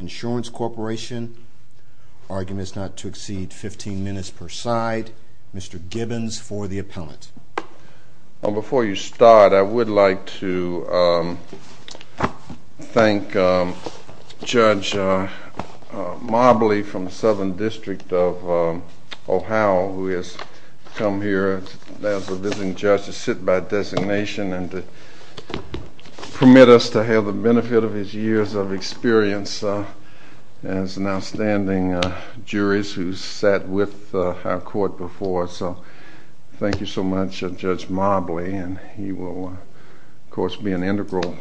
Insurance Corporation, argument is not to exceed 15 minutes per side. Mr. Gibbons for the appellant. Before you start, I would like to thank Judge Marbley from the Southern District of Ohio who has come here as a visiting judge to sit by designation and to permit us to have the benefit of his years of experience as an outstanding jury who has sat with our court before. So thank you so much Judge Marbley and he will of course be an integral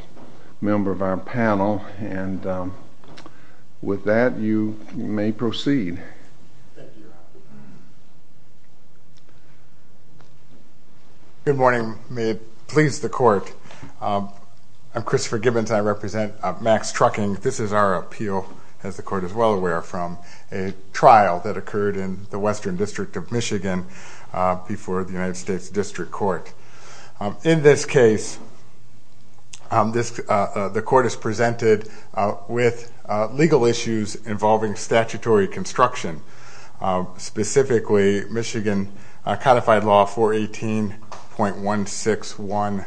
member of our panel and with that you may proceed. Good morning. May it please the court. I'm Christopher Gibbons. I represent Max Trucking. This is our appeal as the court is well aware from a trial that occurred in the Western District of Michigan before the United States District Court. In this case, the court is presented with legal issues involving statutory construction, specifically Michigan codified law 418.161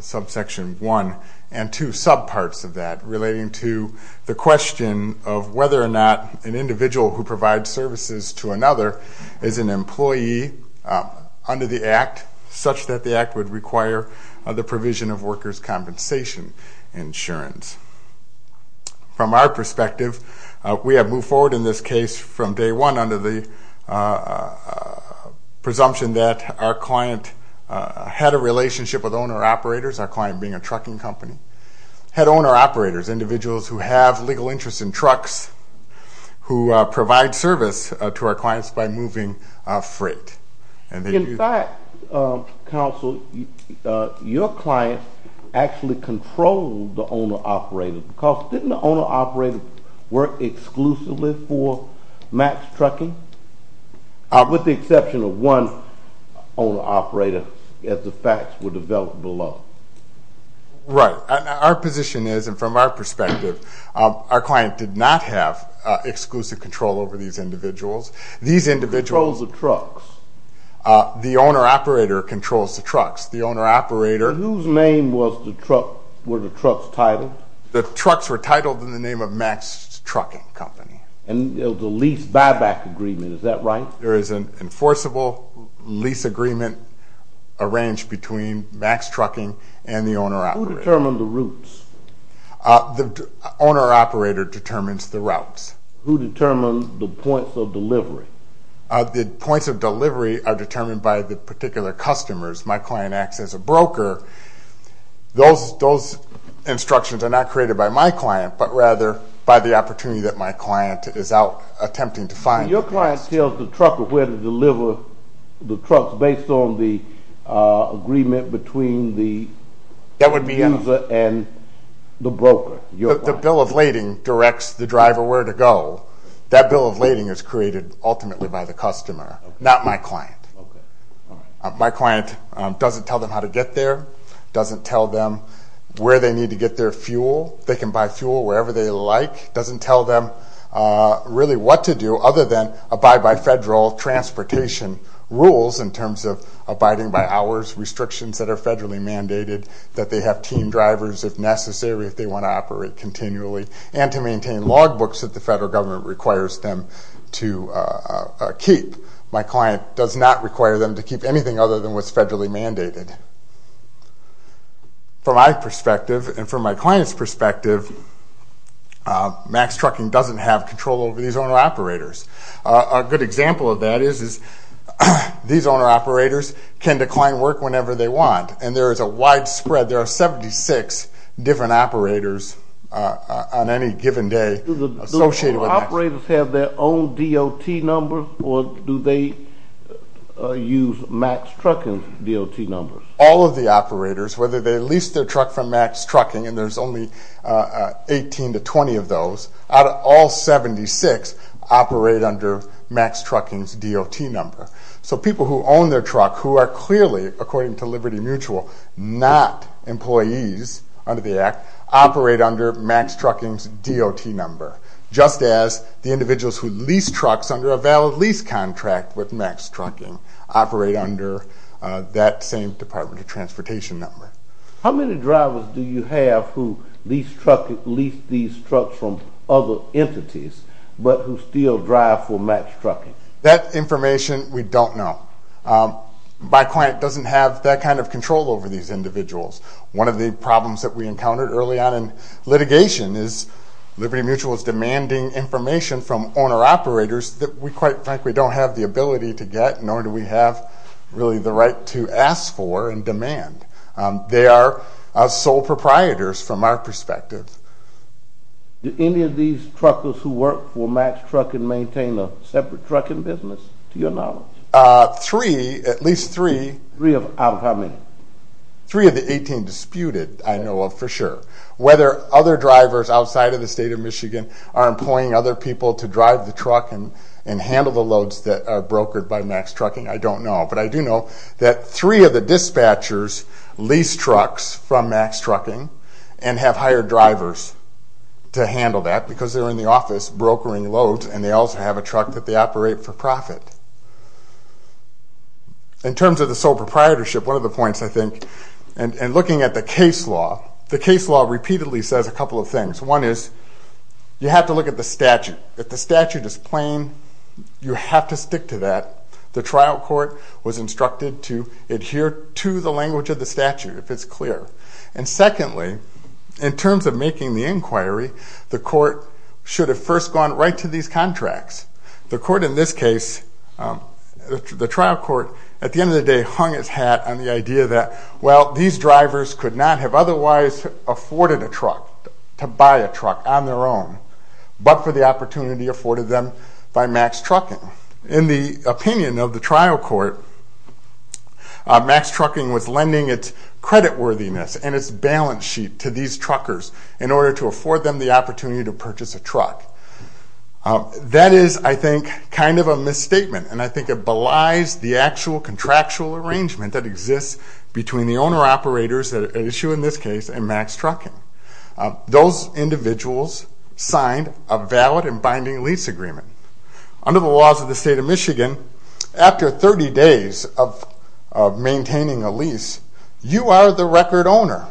subsection 1 and two subparts of that relating to the question of whether or not an individual who provides services to another is an employee under the act such that the act would require the provision of workers' compensation insurance. From our perspective, we have moved forward in this case from day one under the presumption that our client had a relationship with owner-operators, our client being a trucking company, had owner-operators, individuals who have legal interest in trucks, who provide service to our clients by moving freight. In fact, counsel, your client actually controlled the owner-operator because didn't the owner-operator work exclusively for Max Trucking with the exception of one owner-operator as the facts were developed below? Right. Our position is, and from our perspective, our client did not have exclusive control over these individuals. These individuals... Controls the trucks. The owner-operator controls the trucks. The owner-operator... Whose name were the trucks titled? The trucks were titled in the name of Max Trucking Company. And the lease buyback agreement, is that right? There is an enforceable lease agreement arranged between Max Trucking and the owner-operator. Who determined the routes? The owner-operator determines the routes. Who determines the points of delivery? The points of delivery are determined by the particular customers. My client acts as a broker. Those instructions are not created by my client, but rather by the opportunity that my client is out attempting to find... Your client tells the trucker where to deliver the trucks based on the agreement between the user and the broker. The bill of lading directs the driver where to go. That bill of lading is created ultimately by the customer, not my client. My client doesn't tell them how to get there, doesn't tell them where they need to get their fuel. They can buy fuel wherever they like, doesn't tell them really what to do other than abide by federal transportation rules in terms of abiding by hours restrictions that are federally mandated. That they have team drivers if necessary, if they want to operate continually. And to maintain log books that the federal government requires them to keep. My client does not require them to keep anything other than what's federally mandated. From my perspective, and from my client's perspective, MAX Trucking doesn't have control over these owner-operators. A good example of that is these owner-operators can decline work whenever they want. And there is a widespread, there are 76 different operators on any given day associated with MAX. Do the operators have their own DOT number, or do they use MAX Trucking's DOT numbers? All of the operators, whether they lease their truck from MAX Trucking, and there's only 18 to 20 of those, out of all 76 operate under MAX Trucking's DOT number. So people who own their truck, who are clearly, according to Liberty Mutual, not employees under the Act, operate under MAX Trucking's DOT number. Just as the individuals who lease trucks under a valid lease contract with MAX Trucking operate under that same Department of Transportation number. How many drivers do you have who lease these trucks from other entities, but who still drive for MAX Trucking? That information, we don't know. My client doesn't have that kind of control over these individuals. One of the problems that we encountered early on in litigation is Liberty Mutual is demanding information from owner-operators that we quite frankly don't have the ability to get, nor do we have really the right to ask for and demand. They are sole proprietors from our perspective. Do any of these truckers who work for MAX Trucking maintain a separate trucking business, to your knowledge? Three, at least three. Three out of how many? Three of the 18 disputed, I know of for sure. Whether other drivers outside of the state of Michigan are employing other people to drive the truck and handle the loads that are brokered by MAX Trucking, I don't know. But I do know that three of the dispatchers lease trucks from MAX Trucking and have hired drivers to handle that because they're in the office brokering loads, and they also have a truck that they operate for profit. In terms of the sole proprietorship, one of the points I think, and looking at the case law, the case law repeatedly says a couple of things. One is you have to look at the statute. If the statute is plain, you have to stick to that. The trial court was instructed to adhere to the language of the statute if it's clear. And secondly, in terms of making the inquiry, the court should have first gone right to these contracts. The court in this case, the trial court, at the end of the day hung its hat on the idea that, well, these drivers could not have otherwise afforded a truck, to buy a truck on their own, but for the opportunity afforded them by MAX Trucking. In the opinion of the trial court, MAX Trucking was lending its creditworthiness and its balance sheet to these truckers in order to afford them the opportunity to purchase a truck. That is, I think, kind of a misstatement, and I think it belies the actual contractual arrangement that exists between the owner-operators at issue in this case and MAX Trucking. Those individuals signed a valid and binding lease agreement. Under the laws of the state of Michigan, after 30 days of maintaining a lease, you are the record owner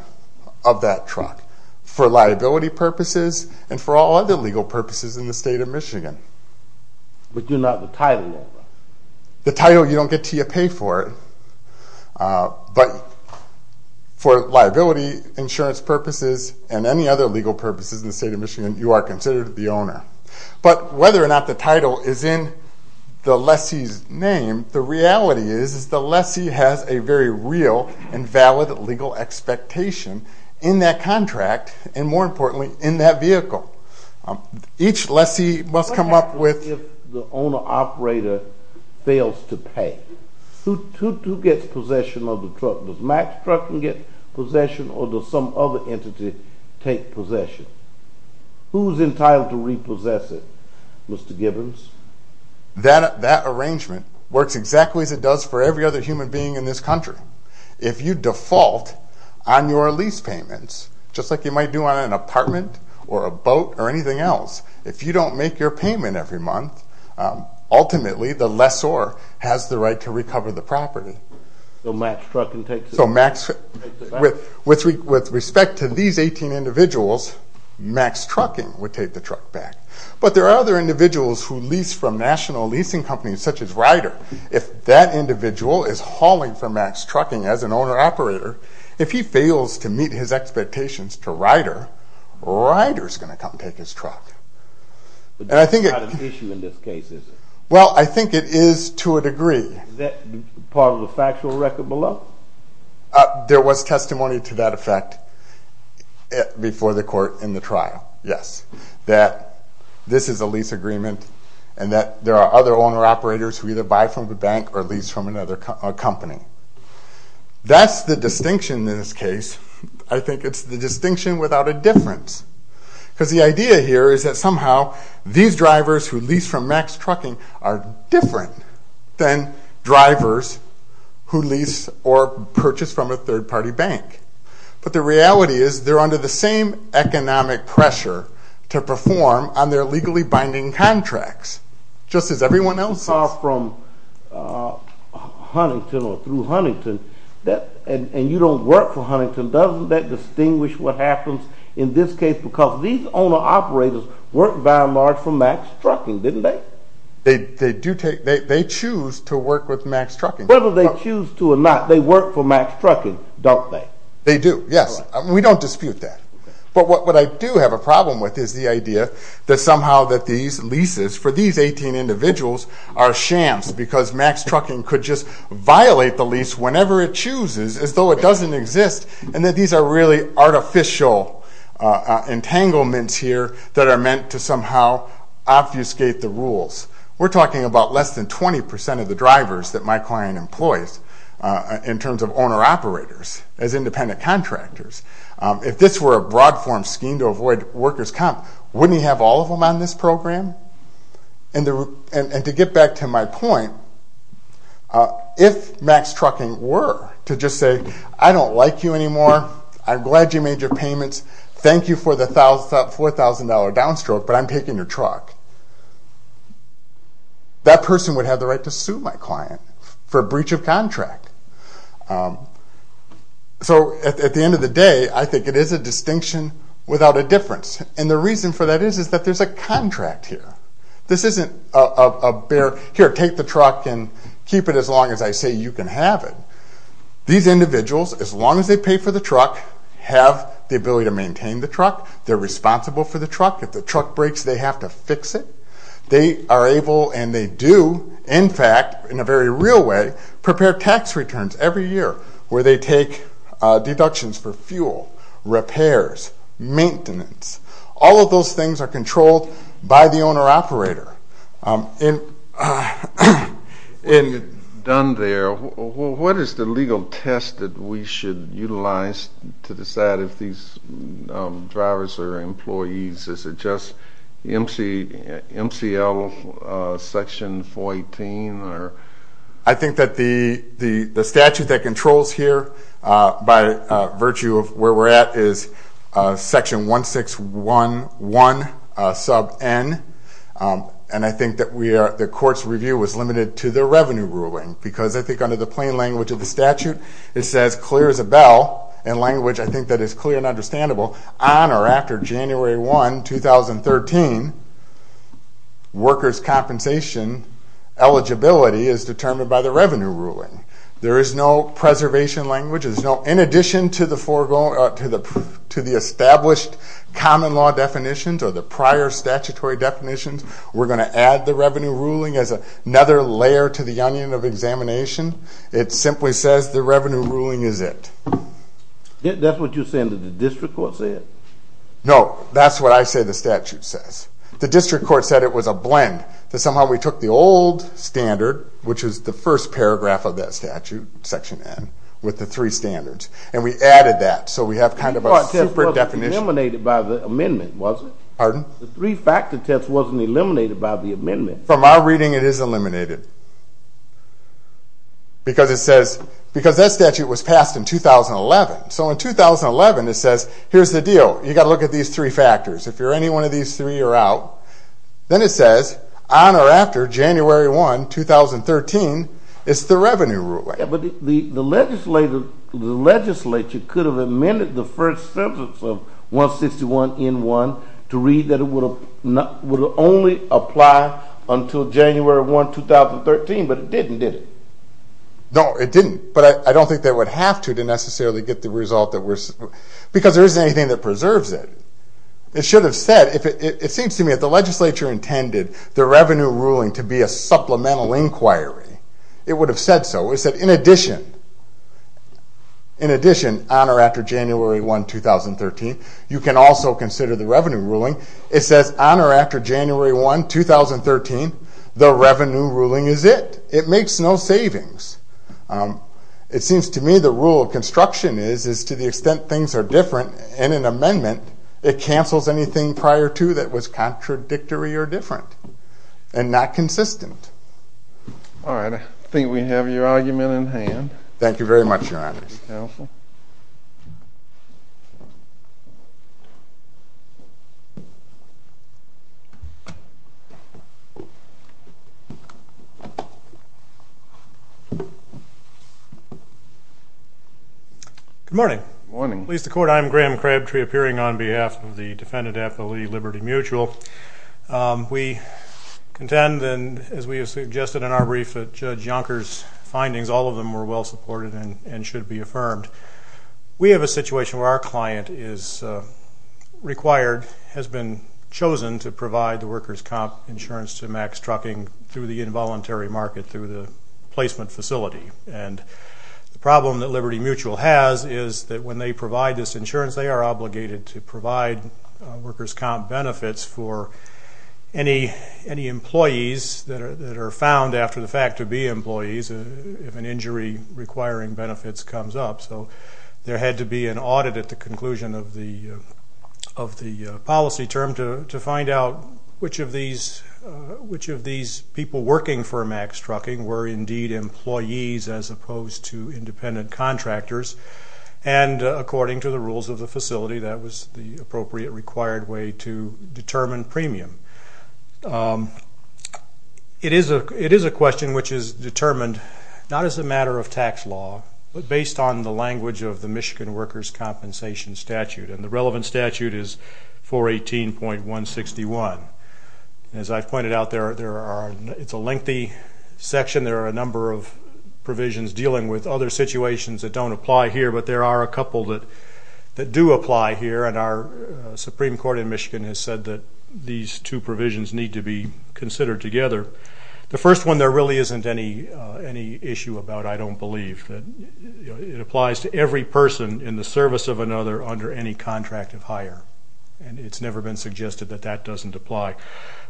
of that truck for liability purposes and for all other legal purposes in the state of Michigan. But you're not the title owner. The title, you don't get to pay for it, but for liability, insurance purposes, and any other legal purposes in the state of Michigan, you are considered the owner. But whether or not the title is in the lessee's name, the reality is the lessee has a very real and valid legal expectation in that contract, and more importantly, in that vehicle. Each lessee must come up with... What happens if the owner-operator fails to pay? Who gets possession of the truck? Does MAX Trucking get possession, or does some other entity take possession? Who's entitled to repossess it, Mr. Gibbons? That arrangement works exactly as it does for every other human being in this country. If you default on your lease payments, just like you might do on an apartment or a boat or anything else, if you don't make your payment every month, ultimately the lessor has the right to recover the property. So MAX Trucking takes it back? With respect to these 18 individuals, MAX Trucking would take the truck back. But there are other individuals who lease from national leasing companies, such as Ryder. If that individual is hauling for MAX Trucking as an owner-operator, if he fails to meet his expectations to Ryder, Ryder's going to come take his truck. But that's not an issue in this case, is it? Is that part of the factual record below? There was testimony to that effect before the court in the trial, yes. That this is a lease agreement, and that there are other owner-operators who either buy from the bank or lease from another company. That's the distinction in this case. I think it's the distinction without a difference. Because the idea here is that somehow these drivers who lease from MAX Trucking are different than drivers who lease or purchase from a third-party bank. But the reality is they're under the same economic pressure to perform on their legally binding contracts, just as everyone else is. But if you are from Huntington or through Huntington, and you don't work for Huntington, doesn't that distinguish what happens in this case? Because these owner-operators work by and large for MAX Trucking, didn't they? They choose to work with MAX Trucking. Whether they choose to or not, they work for MAX Trucking, don't they? They do, yes. We don't dispute that. But what I do have a problem with is the idea that somehow that these leases for these 18 individuals are shams, because MAX Trucking could just violate the lease whenever it chooses as though it doesn't exist, and that these are really artificial entanglements here that are meant to somehow obfuscate the rules. We're talking about less than 20% of the drivers that my client employs in terms of owner-operators as independent contractors. If this were a broad-form scheme to avoid workers' comp, wouldn't he have all of them on this program? And to get back to my point, if MAX Trucking were to just say, I don't like you anymore, I'm glad you made your payments, thank you for the $4,000 downstroke, but I'm taking your truck, that person would have the right to sue my client for breach of contract. So at the end of the day, I think it is a distinction without a difference. And the reason for that is that there's a contract here. This isn't a bare, here, take the truck and keep it as long as I say you can have it. These individuals, as long as they pay for the truck, have the ability to maintain the truck, they're responsible for the truck, if the truck breaks they have to fix it. They are able and they do, in fact, in a very real way, prepare tax returns every year, where they take deductions for fuel, repairs, maintenance. All of those things are controlled by the owner-operator. When you're done there, what is the legal test that we should utilize to decide if these drivers are employees? Is it just MCL Section 418? I think that the statute that controls here, by virtue of where we're at, is Section 1611 sub N, and I think that the court's review was limited to the revenue ruling, because I think under the plain language of the statute, it says clear as a bell, in language I think that is clear and understandable, on or after January 1, 2013, workers' compensation eligibility is determined by the revenue ruling. There is no preservation language. In addition to the established common law definitions or the prior statutory definitions, we're going to add the revenue ruling as another layer to the onion of examination. It simply says the revenue ruling is it. That's what you're saying that the district court said? No, that's what I say the statute says. The district court said it was a blend, that somehow we took the old standard, which was the first paragraph of that statute, Section N, with the three standards, and we added that, so we have kind of a super definition. The three-factor test wasn't eliminated by the amendment, was it? Pardon? The three-factor test wasn't eliminated by the amendment. From our reading, it is eliminated, because that statute was passed in 2011. So in 2011, it says, here's the deal, you've got to look at these three factors. If you're any one of these three, you're out. Then it says, on or after January 1, 2013, is the revenue ruling. But the legislature could have amended the first sentence of 161N1 to read that it would only apply until January 1, 2013, but it didn't, did it? No, it didn't. But I don't think they would have to, to necessarily get the result. Because there isn't anything that preserves it. It should have said, it seems to me, if the legislature intended the revenue ruling to be a supplemental inquiry, it would have said so. It would have said, in addition, on or after January 1, 2013, you can also consider the revenue ruling. It says, on or after January 1, 2013, the revenue ruling is it. It makes no savings. It seems to me the rule of construction is, to the extent things are different in an amendment, it cancels anything prior to that was contradictory or different and not consistent. All right. I think we have your argument in hand. Thank you very much, Your Honor. Thank you, counsel. Good morning. Good morning. Police Department, I'm Graham Crabtree, appearing on behalf of the defendant affiliate Liberty Mutual. We contend, as we have suggested in our brief, that Judge Yonker's findings, all of them were well supported and should be affirmed. We have a situation where our client is required, has been chosen to provide the workers' comp insurance to Max Trucking through the involuntary market through the placement facility. And the problem that Liberty Mutual has is that when they provide this insurance, they are obligated to provide workers' comp benefits for any employees that are found after the fact to be employees if an injury requiring benefits comes up. So there had to be an audit at the conclusion of the policy term to find out which of these people working for Max Trucking were indeed employees as opposed to independent contractors. And according to the rules of the facility, that was the appropriate required way to determine premium. It is a question which is determined not as a matter of tax law, but based on the language of the Michigan Workers' Compensation Statute, and the relevant statute is 418.161. As I've pointed out, it's a lengthy section. There are a number of provisions dealing with other situations that don't apply here, but there are a couple that do apply here, and our Supreme Court in Michigan has said that these two provisions need to be considered together. The first one, there really isn't any issue about I don't believe. It applies to every person in the service of another under any contract of hire, and it's never been suggested that that doesn't apply.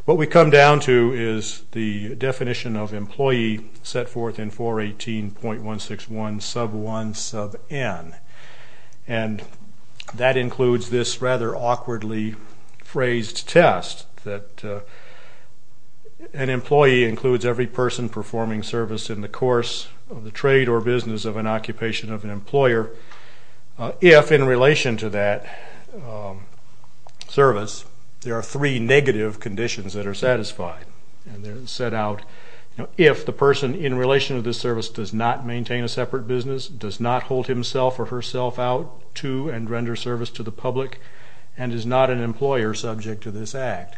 What we come down to is the definition of employee set forth in 418.161 sub 1 sub n, and that includes this rather awkwardly phrased test that an employee includes every person performing service in the course of the trade or business of an occupation of an employer if, in relation to that service, there are three negative conditions that are satisfied, and they're set out if the person in relation to the service does not maintain a to and render service to the public and is not an employer subject to this act.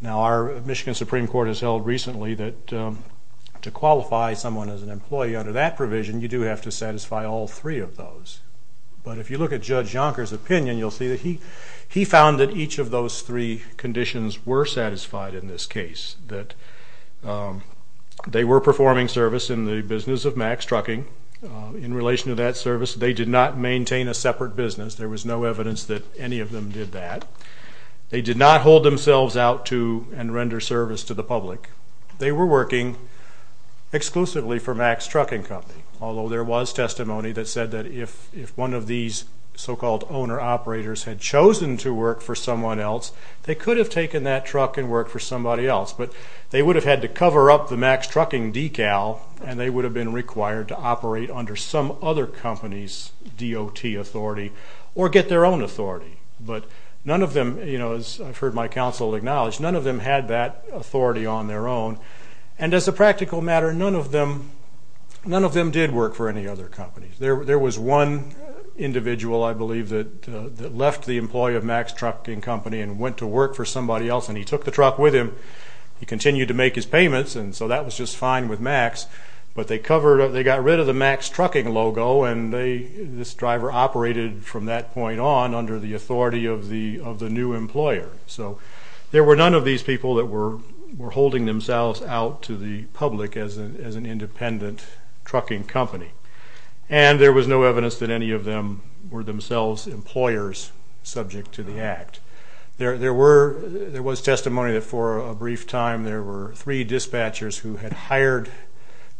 Now, our Michigan Supreme Court has held recently that to qualify someone as an employee under that provision, you do have to satisfy all three of those. But if you look at Judge Jonker's opinion, you'll see that he found that each of those three conditions were satisfied in this case, that they were performing service in the business of max trucking. In relation to that service, they did not maintain a separate business. There was no evidence that any of them did that. They did not hold themselves out to and render service to the public. They were working exclusively for max trucking company, although there was testimony that said that if one of these so-called owner operators had chosen to work for someone else, they could have taken that truck and worked for somebody else. But they would have had to cover up the max trucking decal, and they would have been required to operate under some other company's DOT authority or get their own authority. But none of them, as I've heard my counsel acknowledge, none of them had that authority on their own. And as a practical matter, none of them did work for any other companies. There was one individual, I believe, that left the employee of max trucking company and went to work for somebody else, and he took the truck with him. He continued to make his payments, and so that was just fine with max. But they got rid of the max trucking logo, and this driver operated from that point on under the authority of the new employer. So there were none of these people that were holding themselves out to the public as an independent trucking company. And there was no evidence that any of them were themselves employers subject to the act. There was testimony that for a brief time there were three dispatchers who had hired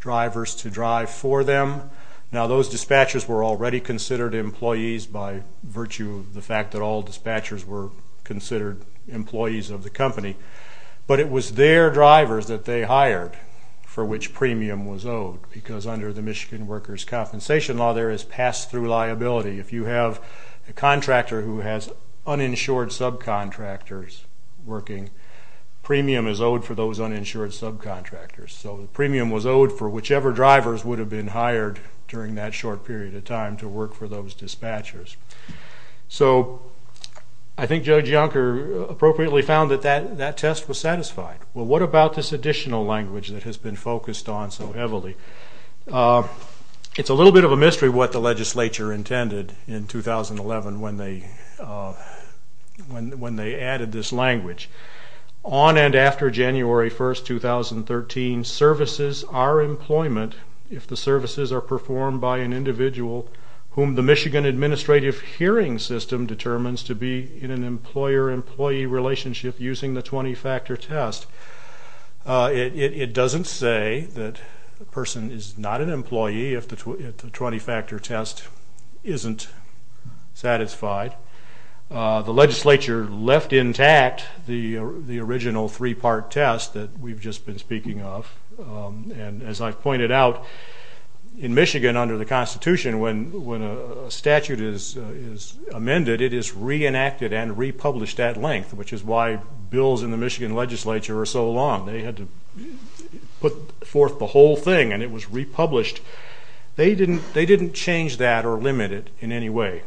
drivers to drive for them. Now, those dispatchers were already considered employees by virtue of the fact that all dispatchers were considered employees of the company. But it was their drivers that they hired for which premium was owed, because under the Michigan Workers' Compensation Law there is pass-through liability. If you have a contractor who has uninsured subcontractors working, premium is owed for those uninsured subcontractors. So the premium was owed for whichever drivers would have been hired during that short period of time to work for those dispatchers. So I think Judge Yonker appropriately found that that test was satisfied. Well, what about this additional language that has been focused on so heavily? It's a little bit of a mystery what the legislature intended in 2011 when they added this language. On and after January 1, 2013, services are employment if the services are performed by an individual whom the Michigan Administrative Hearing System determines to be in an employer-employee relationship using the 20-factor test. It doesn't say that a person is not an employee if the 20-factor test isn't satisfied. The legislature left intact the original three-part test that we've just been speaking of. And as I've pointed out, in Michigan under the Constitution, when a statute is amended, it is reenacted and republished at length, which is why bills in the Michigan legislature are so long. They had to put forth the whole thing, and it was republished. They didn't change that or limit it in any way.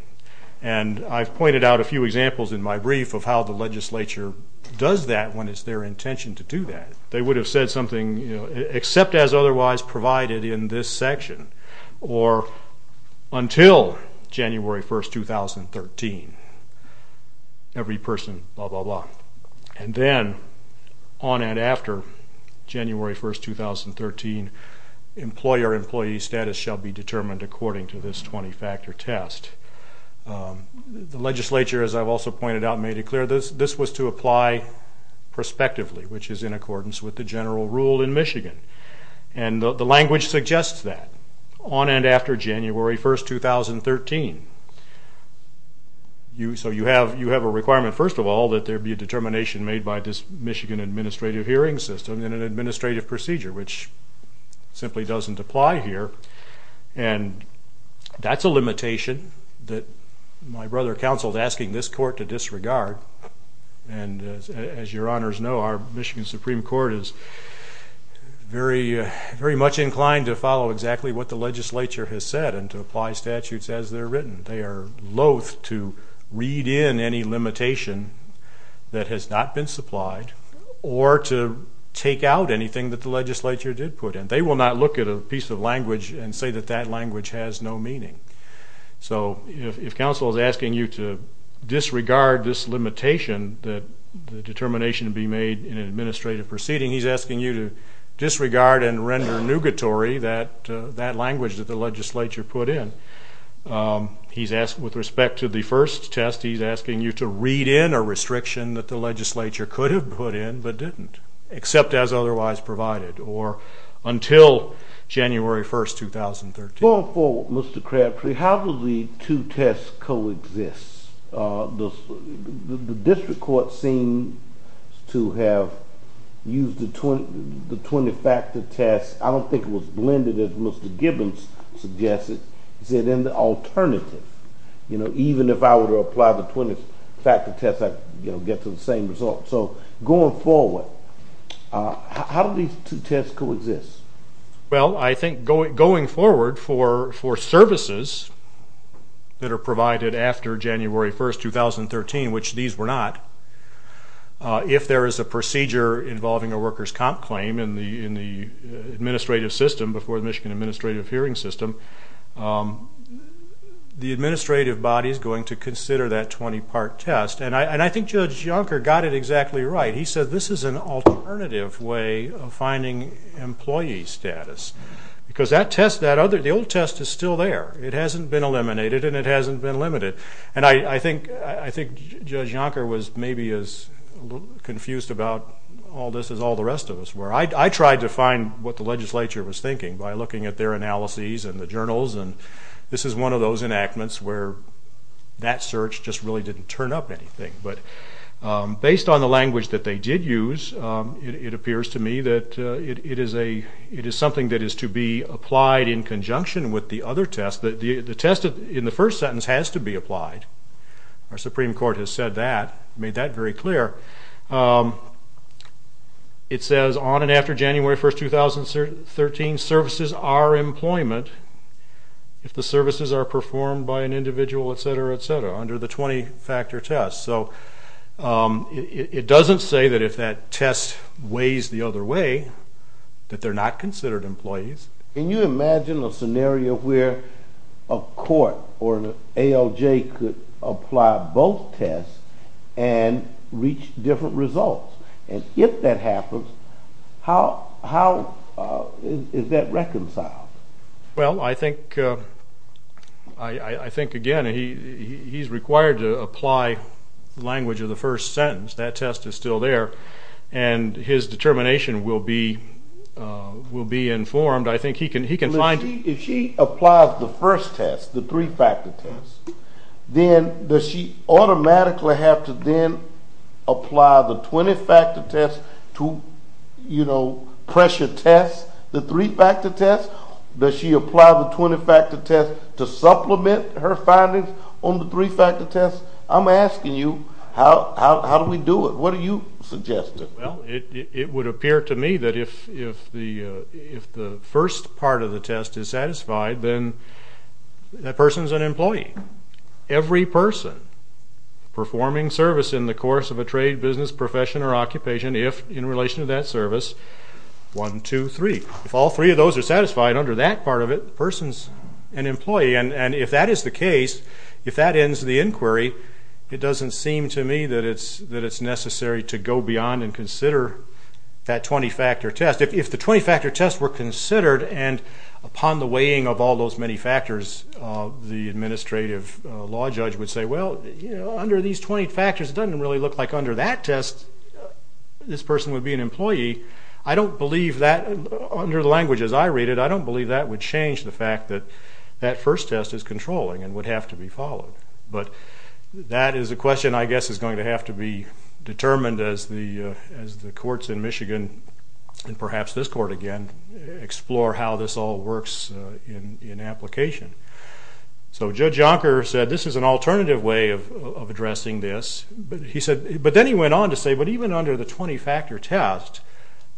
And I've pointed out a few examples in my brief of how the legislature does that when it's their intention to do that. They would have said something, you know, except as otherwise provided in this section, or until January 1, 2013, every person, blah, blah, blah. And then on and after January 1, 2013, employer-employee status shall be determined according to this 20-factor test. The legislature, as I've also pointed out and made it clear, this was to apply prospectively, which is in accordance with the general rule in Michigan. And the language suggests that. On and after January 1, 2013. So you have a requirement, first of all, that there be a determination made by this Michigan administrative hearing system and an administrative procedure, which simply doesn't apply here. And that's a limitation that my brother counseled asking this court to disregard. And as your honors know, our Michigan Supreme Court is very much inclined to follow exactly what the legislature has said and to apply statutes as they're written. They are loath to read in any limitation that has not been supplied or to take out anything that the legislature did put in. They will not look at a piece of language and say that that language has no meaning. So if counsel is asking you to disregard this limitation that the determination be made in an administrative proceeding, he's asking you to disregard and render nugatory that language that the legislature put in. With respect to the first test, he's asking you to read in a restriction that the legislature could have put in but didn't, except as otherwise provided, or until January 1, 2013. Going forward, Mr. Crabtree, how do the two tests coexist? The district court seems to have used the 20-factor test. I don't think it was blended as Mr. Gibbons suggested. He said in the alternative. Even if I were to apply the 20-factor test, I'd get to the same result. So going forward, how do these two tests coexist? I think going forward for services that are provided after January 1, 2013, which these were not, if there is a procedure involving a workers' comp claim in the administrative system before the Michigan Administrative Hearing System, the administrative body is going to consider that 20-part test. And I think Judge Junker got it exactly right. He said this is an alternative way of finding employee status because the old test is still there. It hasn't been eliminated and it hasn't been limited. And I think Judge Junker was maybe as confused about all this as all the rest of us were. I tried to find what the legislature was thinking by looking at their analyses and the journals, and this is one of those enactments where that search just really didn't turn up anything. But based on the language that they did use, it appears to me that it is something that is to be applied in conjunction with the other test. The test in the first sentence has to be applied. Our Supreme Court has said that, made that very clear. It says on and after January 1, 2013, services are employment if the services are performed by an individual, et cetera, et cetera, under the 20-factor test. So it doesn't say that if that test weighs the other way that they're not considered employees. Can you imagine a scenario where a court or an ALJ could apply both tests and reach different results? And if that happens, how is that reconciled? Well, I think, again, he's required to apply the language of the first sentence. That test is still there, and his determination will be informed. I think he can find it. If she applies the first test, the three-factor test, then does she automatically have to then apply the 20-factor test to pressure test the three-factor test? Does she apply the 20-factor test to supplement her findings on the three-factor test? I'm asking you, how do we do it? What are you suggesting? Well, it would appear to me that if the first part of the test is satisfied, then that person is an employee. Every person performing service in the course of a trade, business, profession, or occupation, if in relation to that service, one, two, three. If all three of those are satisfied under that part of it, the person is an employee. And if that is the case, if that ends the inquiry, it doesn't seem to me that it's necessary to go beyond and consider that 20-factor test. If the 20-factor tests were considered, and upon the weighing of all those many factors, the administrative law judge would say, Well, under these 20 factors, it doesn't really look like under that test this person would be an employee. I don't believe that, under the language as I read it, I don't believe that would change the fact that that first test is controlling and would have to be followed. But that is a question I guess is going to have to be determined as the courts in Michigan, and perhaps this court again, explore how this all works in application. So Judge Yonker said this is an alternative way of addressing this. But then he went on to say, But even under the 20-factor test,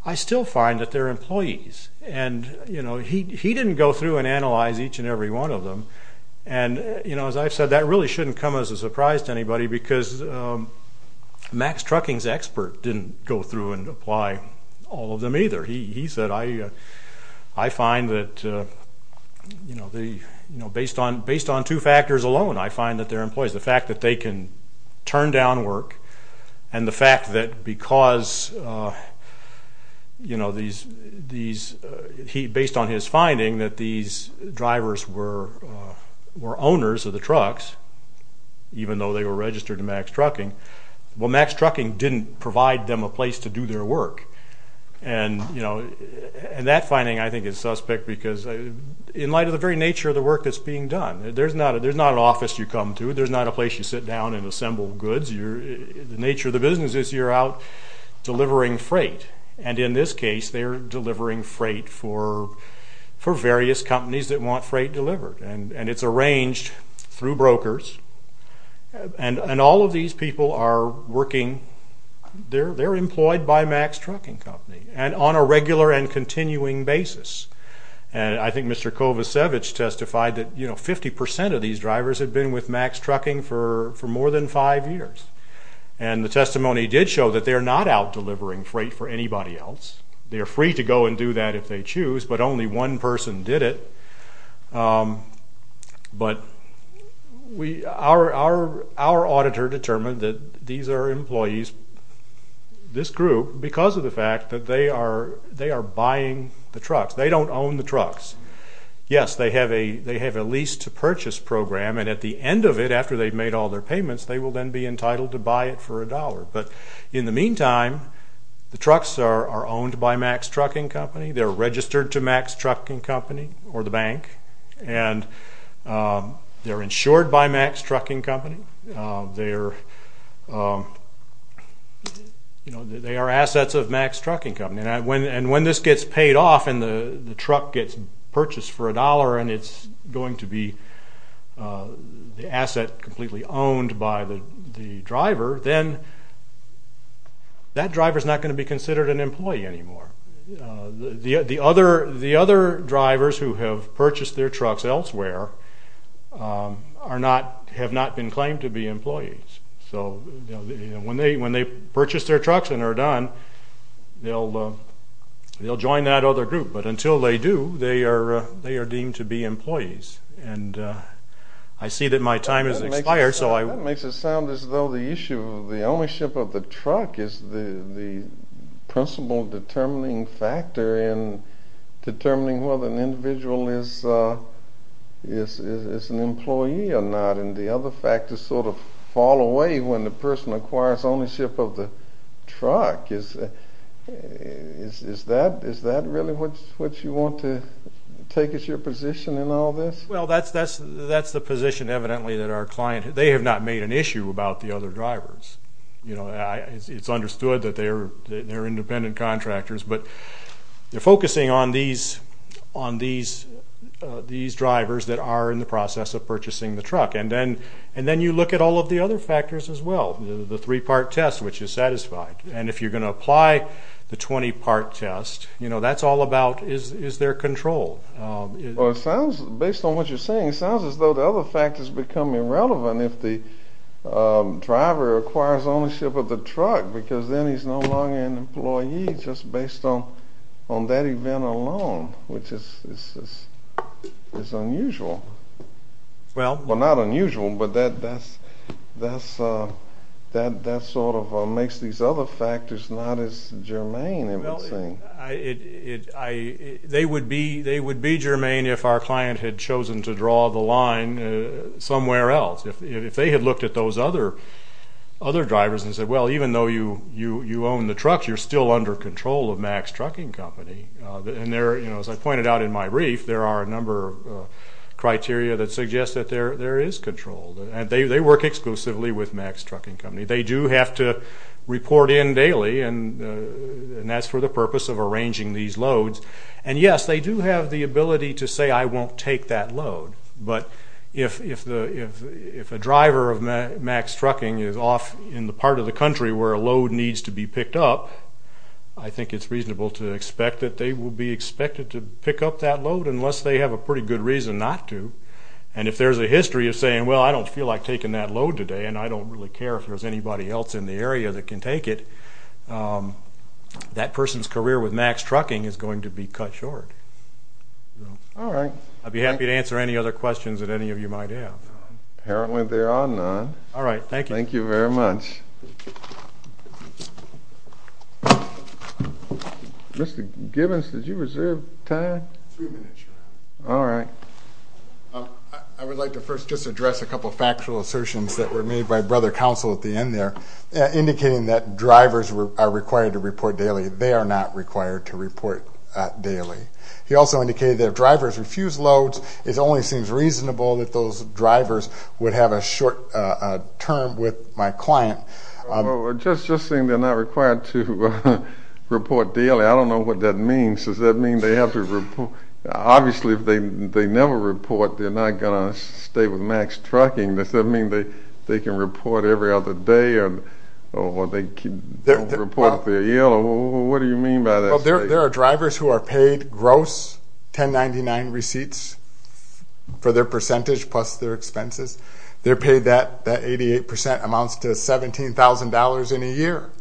I still find that they're employees. And he didn't go through and analyze each and every one of them. And as I've said, that really shouldn't come as a surprise to anybody because Max Trucking's expert didn't go through and apply all of them either. He said, I find that, you know, based on two factors alone, I find that they're employees. The fact that they can turn down work and the fact that because, you know, based on his finding that these drivers were owners of the trucks, even though they were registered to Max Trucking, well, Max Trucking didn't provide them a place to do their work. And, you know, that finding I think is suspect because in light of the very nature of the work that's being done, there's not an office you come to, there's not a place you sit down and assemble goods. The nature of the business is you're out delivering freight. And in this case, they're delivering freight for various companies that want freight delivered. And it's arranged through brokers. And all of these people are working, they're employed by Max Trucking Company and on a regular and continuing basis. And I think Mr. Kovacevic testified that, you know, 50% of these drivers had been with Max Trucking for more than five years. And the testimony did show that they're not out delivering freight for anybody else. They're free to go and do that if they choose, but only one person did it. But our auditor determined that these are employees, this group, because of the fact that they are buying the trucks. They don't own the trucks. Yes, they have a lease-to-purchase program, and at the end of it, after they've made all their payments, they will then be entitled to buy it for a dollar. But in the meantime, the trucks are owned by Max Trucking Company. They're registered to Max Trucking Company or the bank. And they're insured by Max Trucking Company. They are assets of Max Trucking Company. And when this gets paid off and the truck gets purchased for a dollar and it's going to be the asset completely owned by the driver, then that driver is not going to be considered an employee anymore. The other drivers who have purchased their trucks elsewhere have not been claimed to be employees. So when they purchase their trucks and are done, they'll join that other group. But until they do, they are deemed to be employees. And I see that my time has expired, so I will... That makes it sound as though the issue of the ownership of the truck is the principal determining factor in determining whether an individual is an employee or not, and the other factors sort of fall away when the person acquires ownership of the truck. Is that really what you want to take as your position in all this? Well, that's the position, evidently, that our client has. They have not made an issue about the other drivers. It's understood that they're independent contractors, but they're focusing on these drivers that are in the process of purchasing the truck. And then you look at all of the other factors as well, the three-part test, which is satisfied. And if you're going to apply the 20-part test, that's all about is there control. Based on what you're saying, it sounds as though the other factors become irrelevant if the driver acquires ownership of the truck, because then he's no longer an employee just based on that event alone, which is unusual. Well, not unusual, but that sort of makes these other factors not as germane, I would say. They would be germane if our client had chosen to draw the line somewhere else. If they had looked at those other drivers and said, well, even though you own the truck, you're still under control of Mack's Trucking Company. And as I pointed out in my brief, there are a number of criteria that suggest that there is control. They work exclusively with Mack's Trucking Company. They do have to report in daily, and that's for the purpose of arranging these loads. And, yes, they do have the ability to say, I won't take that load. But if a driver of Mack's Trucking is off in the part of the country where a load needs to be picked up, I think it's reasonable to expect that they will be expected to pick up that load unless they have a pretty good reason not to. And if there's a history of saying, well, I don't feel like taking that load today, and I don't really care if there's anybody else in the area that can take it, that person's career with Mack's Trucking is going to be cut short. All right. I'd be happy to answer any other questions that any of you might have. Apparently there are none. All right. Thank you. Thank you very much. Mr. Gibbons, did you reserve time? Three minutes, sir. All right. I would like to first just address a couple of factual assertions that were made by Brother Counsel at the end there, indicating that drivers are required to report daily. They are not required to report daily. He also indicated that if drivers refuse loads, it only seems reasonable that those drivers would have a short term with my client. Just saying they're not required to report daily, I don't know what that means. Does that mean they have to report? Obviously if they never report, they're not going to stay with Mack's Trucking. Does that mean they can report every other day or they don't report if they're ill? What do you mean by that? There are drivers who are paid gross 1099 receipts for their percentage plus their expenses. They're paid that. That 88% amounts to $17,000 in a year.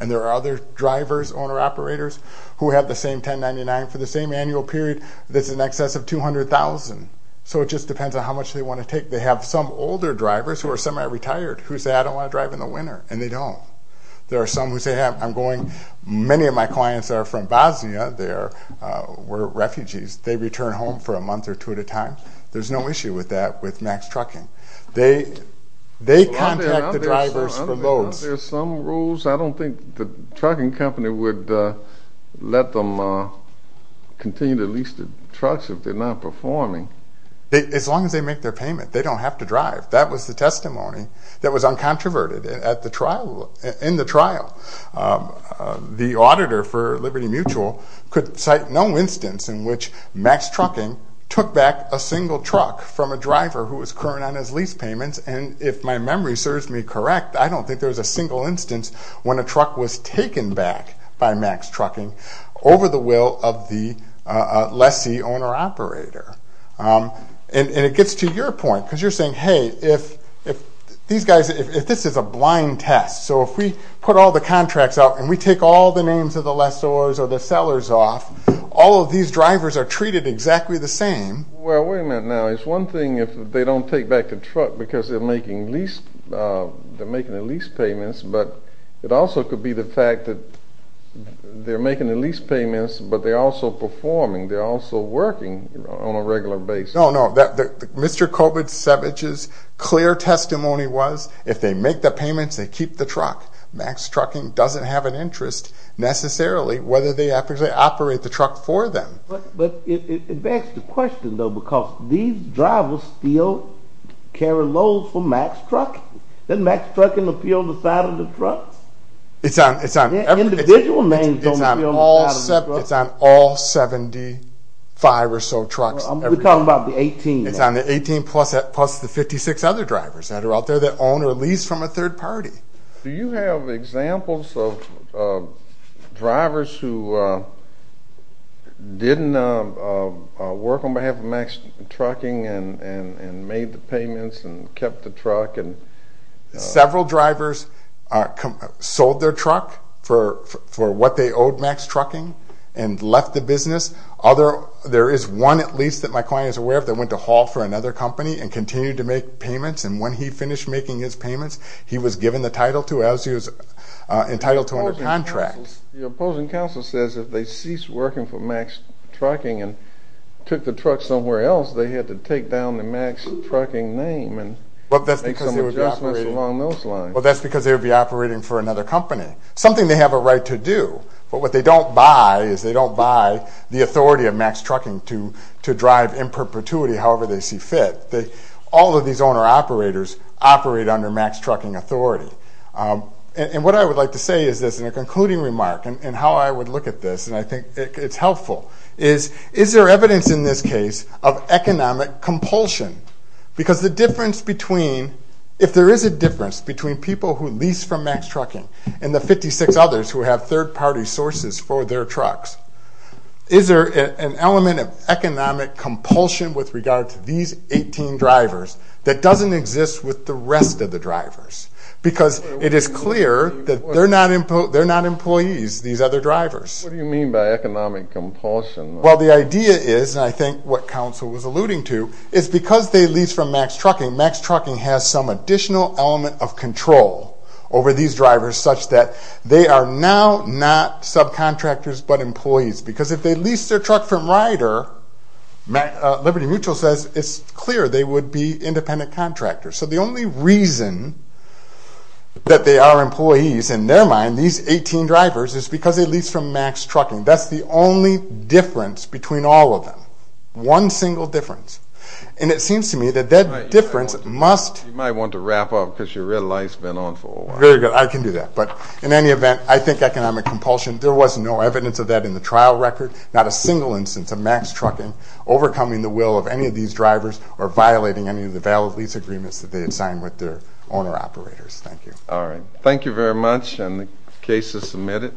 And there are other drivers, owner operators, who have the same 1099 for the same annual period. That's in excess of $200,000. So it just depends on how much they want to take. They have some older drivers who are semi-retired who say, I don't want to drive in the winter, and they don't. There are some who say, I'm going. Many of my clients are from Bosnia. They were refugees. They return home for a month or two at a time. There's no issue with that with Mack's Trucking. They contact the drivers for loads. Are there some rules? I don't think the trucking company would let them continue to lease the trucks if they're not performing. As long as they make their payment, they don't have to drive. That was the testimony that was uncontroverted in the trial. The auditor for Liberty Mutual could cite no instance in which Mack's Trucking took back a single truck from a driver who was current on his lease payments, and if my memory serves me correct, I don't think there was a single instance when a truck was taken back by Mack's Trucking over the will of the lessee owner operator. And it gets to your point, because you're saying, hey, if these guys, if this is a blind test, so if we put all the contracts out and we take all the names of the lessors or the sellers off, all of these drivers are treated exactly the same. Well, wait a minute now. It's one thing if they don't take back the truck because they're making the lease payments, but it also could be the fact that they're making the lease payments, but they're also performing. They're also working on a regular basis. No, no. Mr. Kovacevich's clear testimony was if they make the payments, they keep the truck. Mack's Trucking doesn't have an interest necessarily whether they operate the truck for them. But it begs the question, though, because these drivers still carry loads for Mack's Trucking. Doesn't Mack's Trucking appeal to the side of the truck? Individual names don't appeal to the side of the truck. It's on all 75 or so trucks. We're talking about the 18. It's on the 18 plus the 56 other drivers that are out there that own or lease from a third party. Do you have examples of drivers who didn't work on behalf of Mack's Trucking and made the payments and kept the truck? Several drivers sold their truck for what they owed Mack's Trucking and left the business. There is one, at least, that my client is aware of that went to haul for another company and continued to make payments. And when he finished making his payments, he was given the title to as he was entitled to under contracts. The opposing counsel says if they ceased working for Mack's Trucking and took the truck somewhere else, they had to take down the Mack's Trucking name and make some adjustments along those lines. Well, that's because they would be operating for another company, something they have a right to do. But what they don't buy is they don't buy the authority of Mack's Trucking to drive in perpetuity however they see fit. All of these owner-operators operate under Mack's Trucking authority. And what I would like to say is this in a concluding remark and how I would look at this, and I think it's helpful, is is there evidence in this case of economic compulsion? Because the difference between, if there is a difference between people who lease from Mack's Trucking and the 56 others who have third party sources for their trucks, is there an element of economic compulsion with regard to these 18 drivers that doesn't exist with the rest of the drivers? Because it is clear that they're not employees, these other drivers. What do you mean by economic compulsion? Well, the idea is, and I think what counsel was alluding to, is because they lease from Mack's Trucking, Mack's Trucking has some additional element of control over these drivers such that they are now not subcontractors but employees. Because if they lease their truck from Rider, Liberty Mutual says it's clear they would be independent contractors. So the only reason that they are employees, in their mind, these 18 drivers, is because they lease from Mack's Trucking. That's the only difference between all of them. One single difference. And it seems to me that that difference must... You might want to wrap up because your red light's been on for a while. Very good. I can do that. But in any event, I think economic compulsion, there was no evidence of that in the trial record, not a single instance of Mack's Trucking overcoming the will of any of these drivers or violating any of the valid lease agreements that they had signed with their owner-operators. Thank you. All right. Thank you very much, and the case is submitted.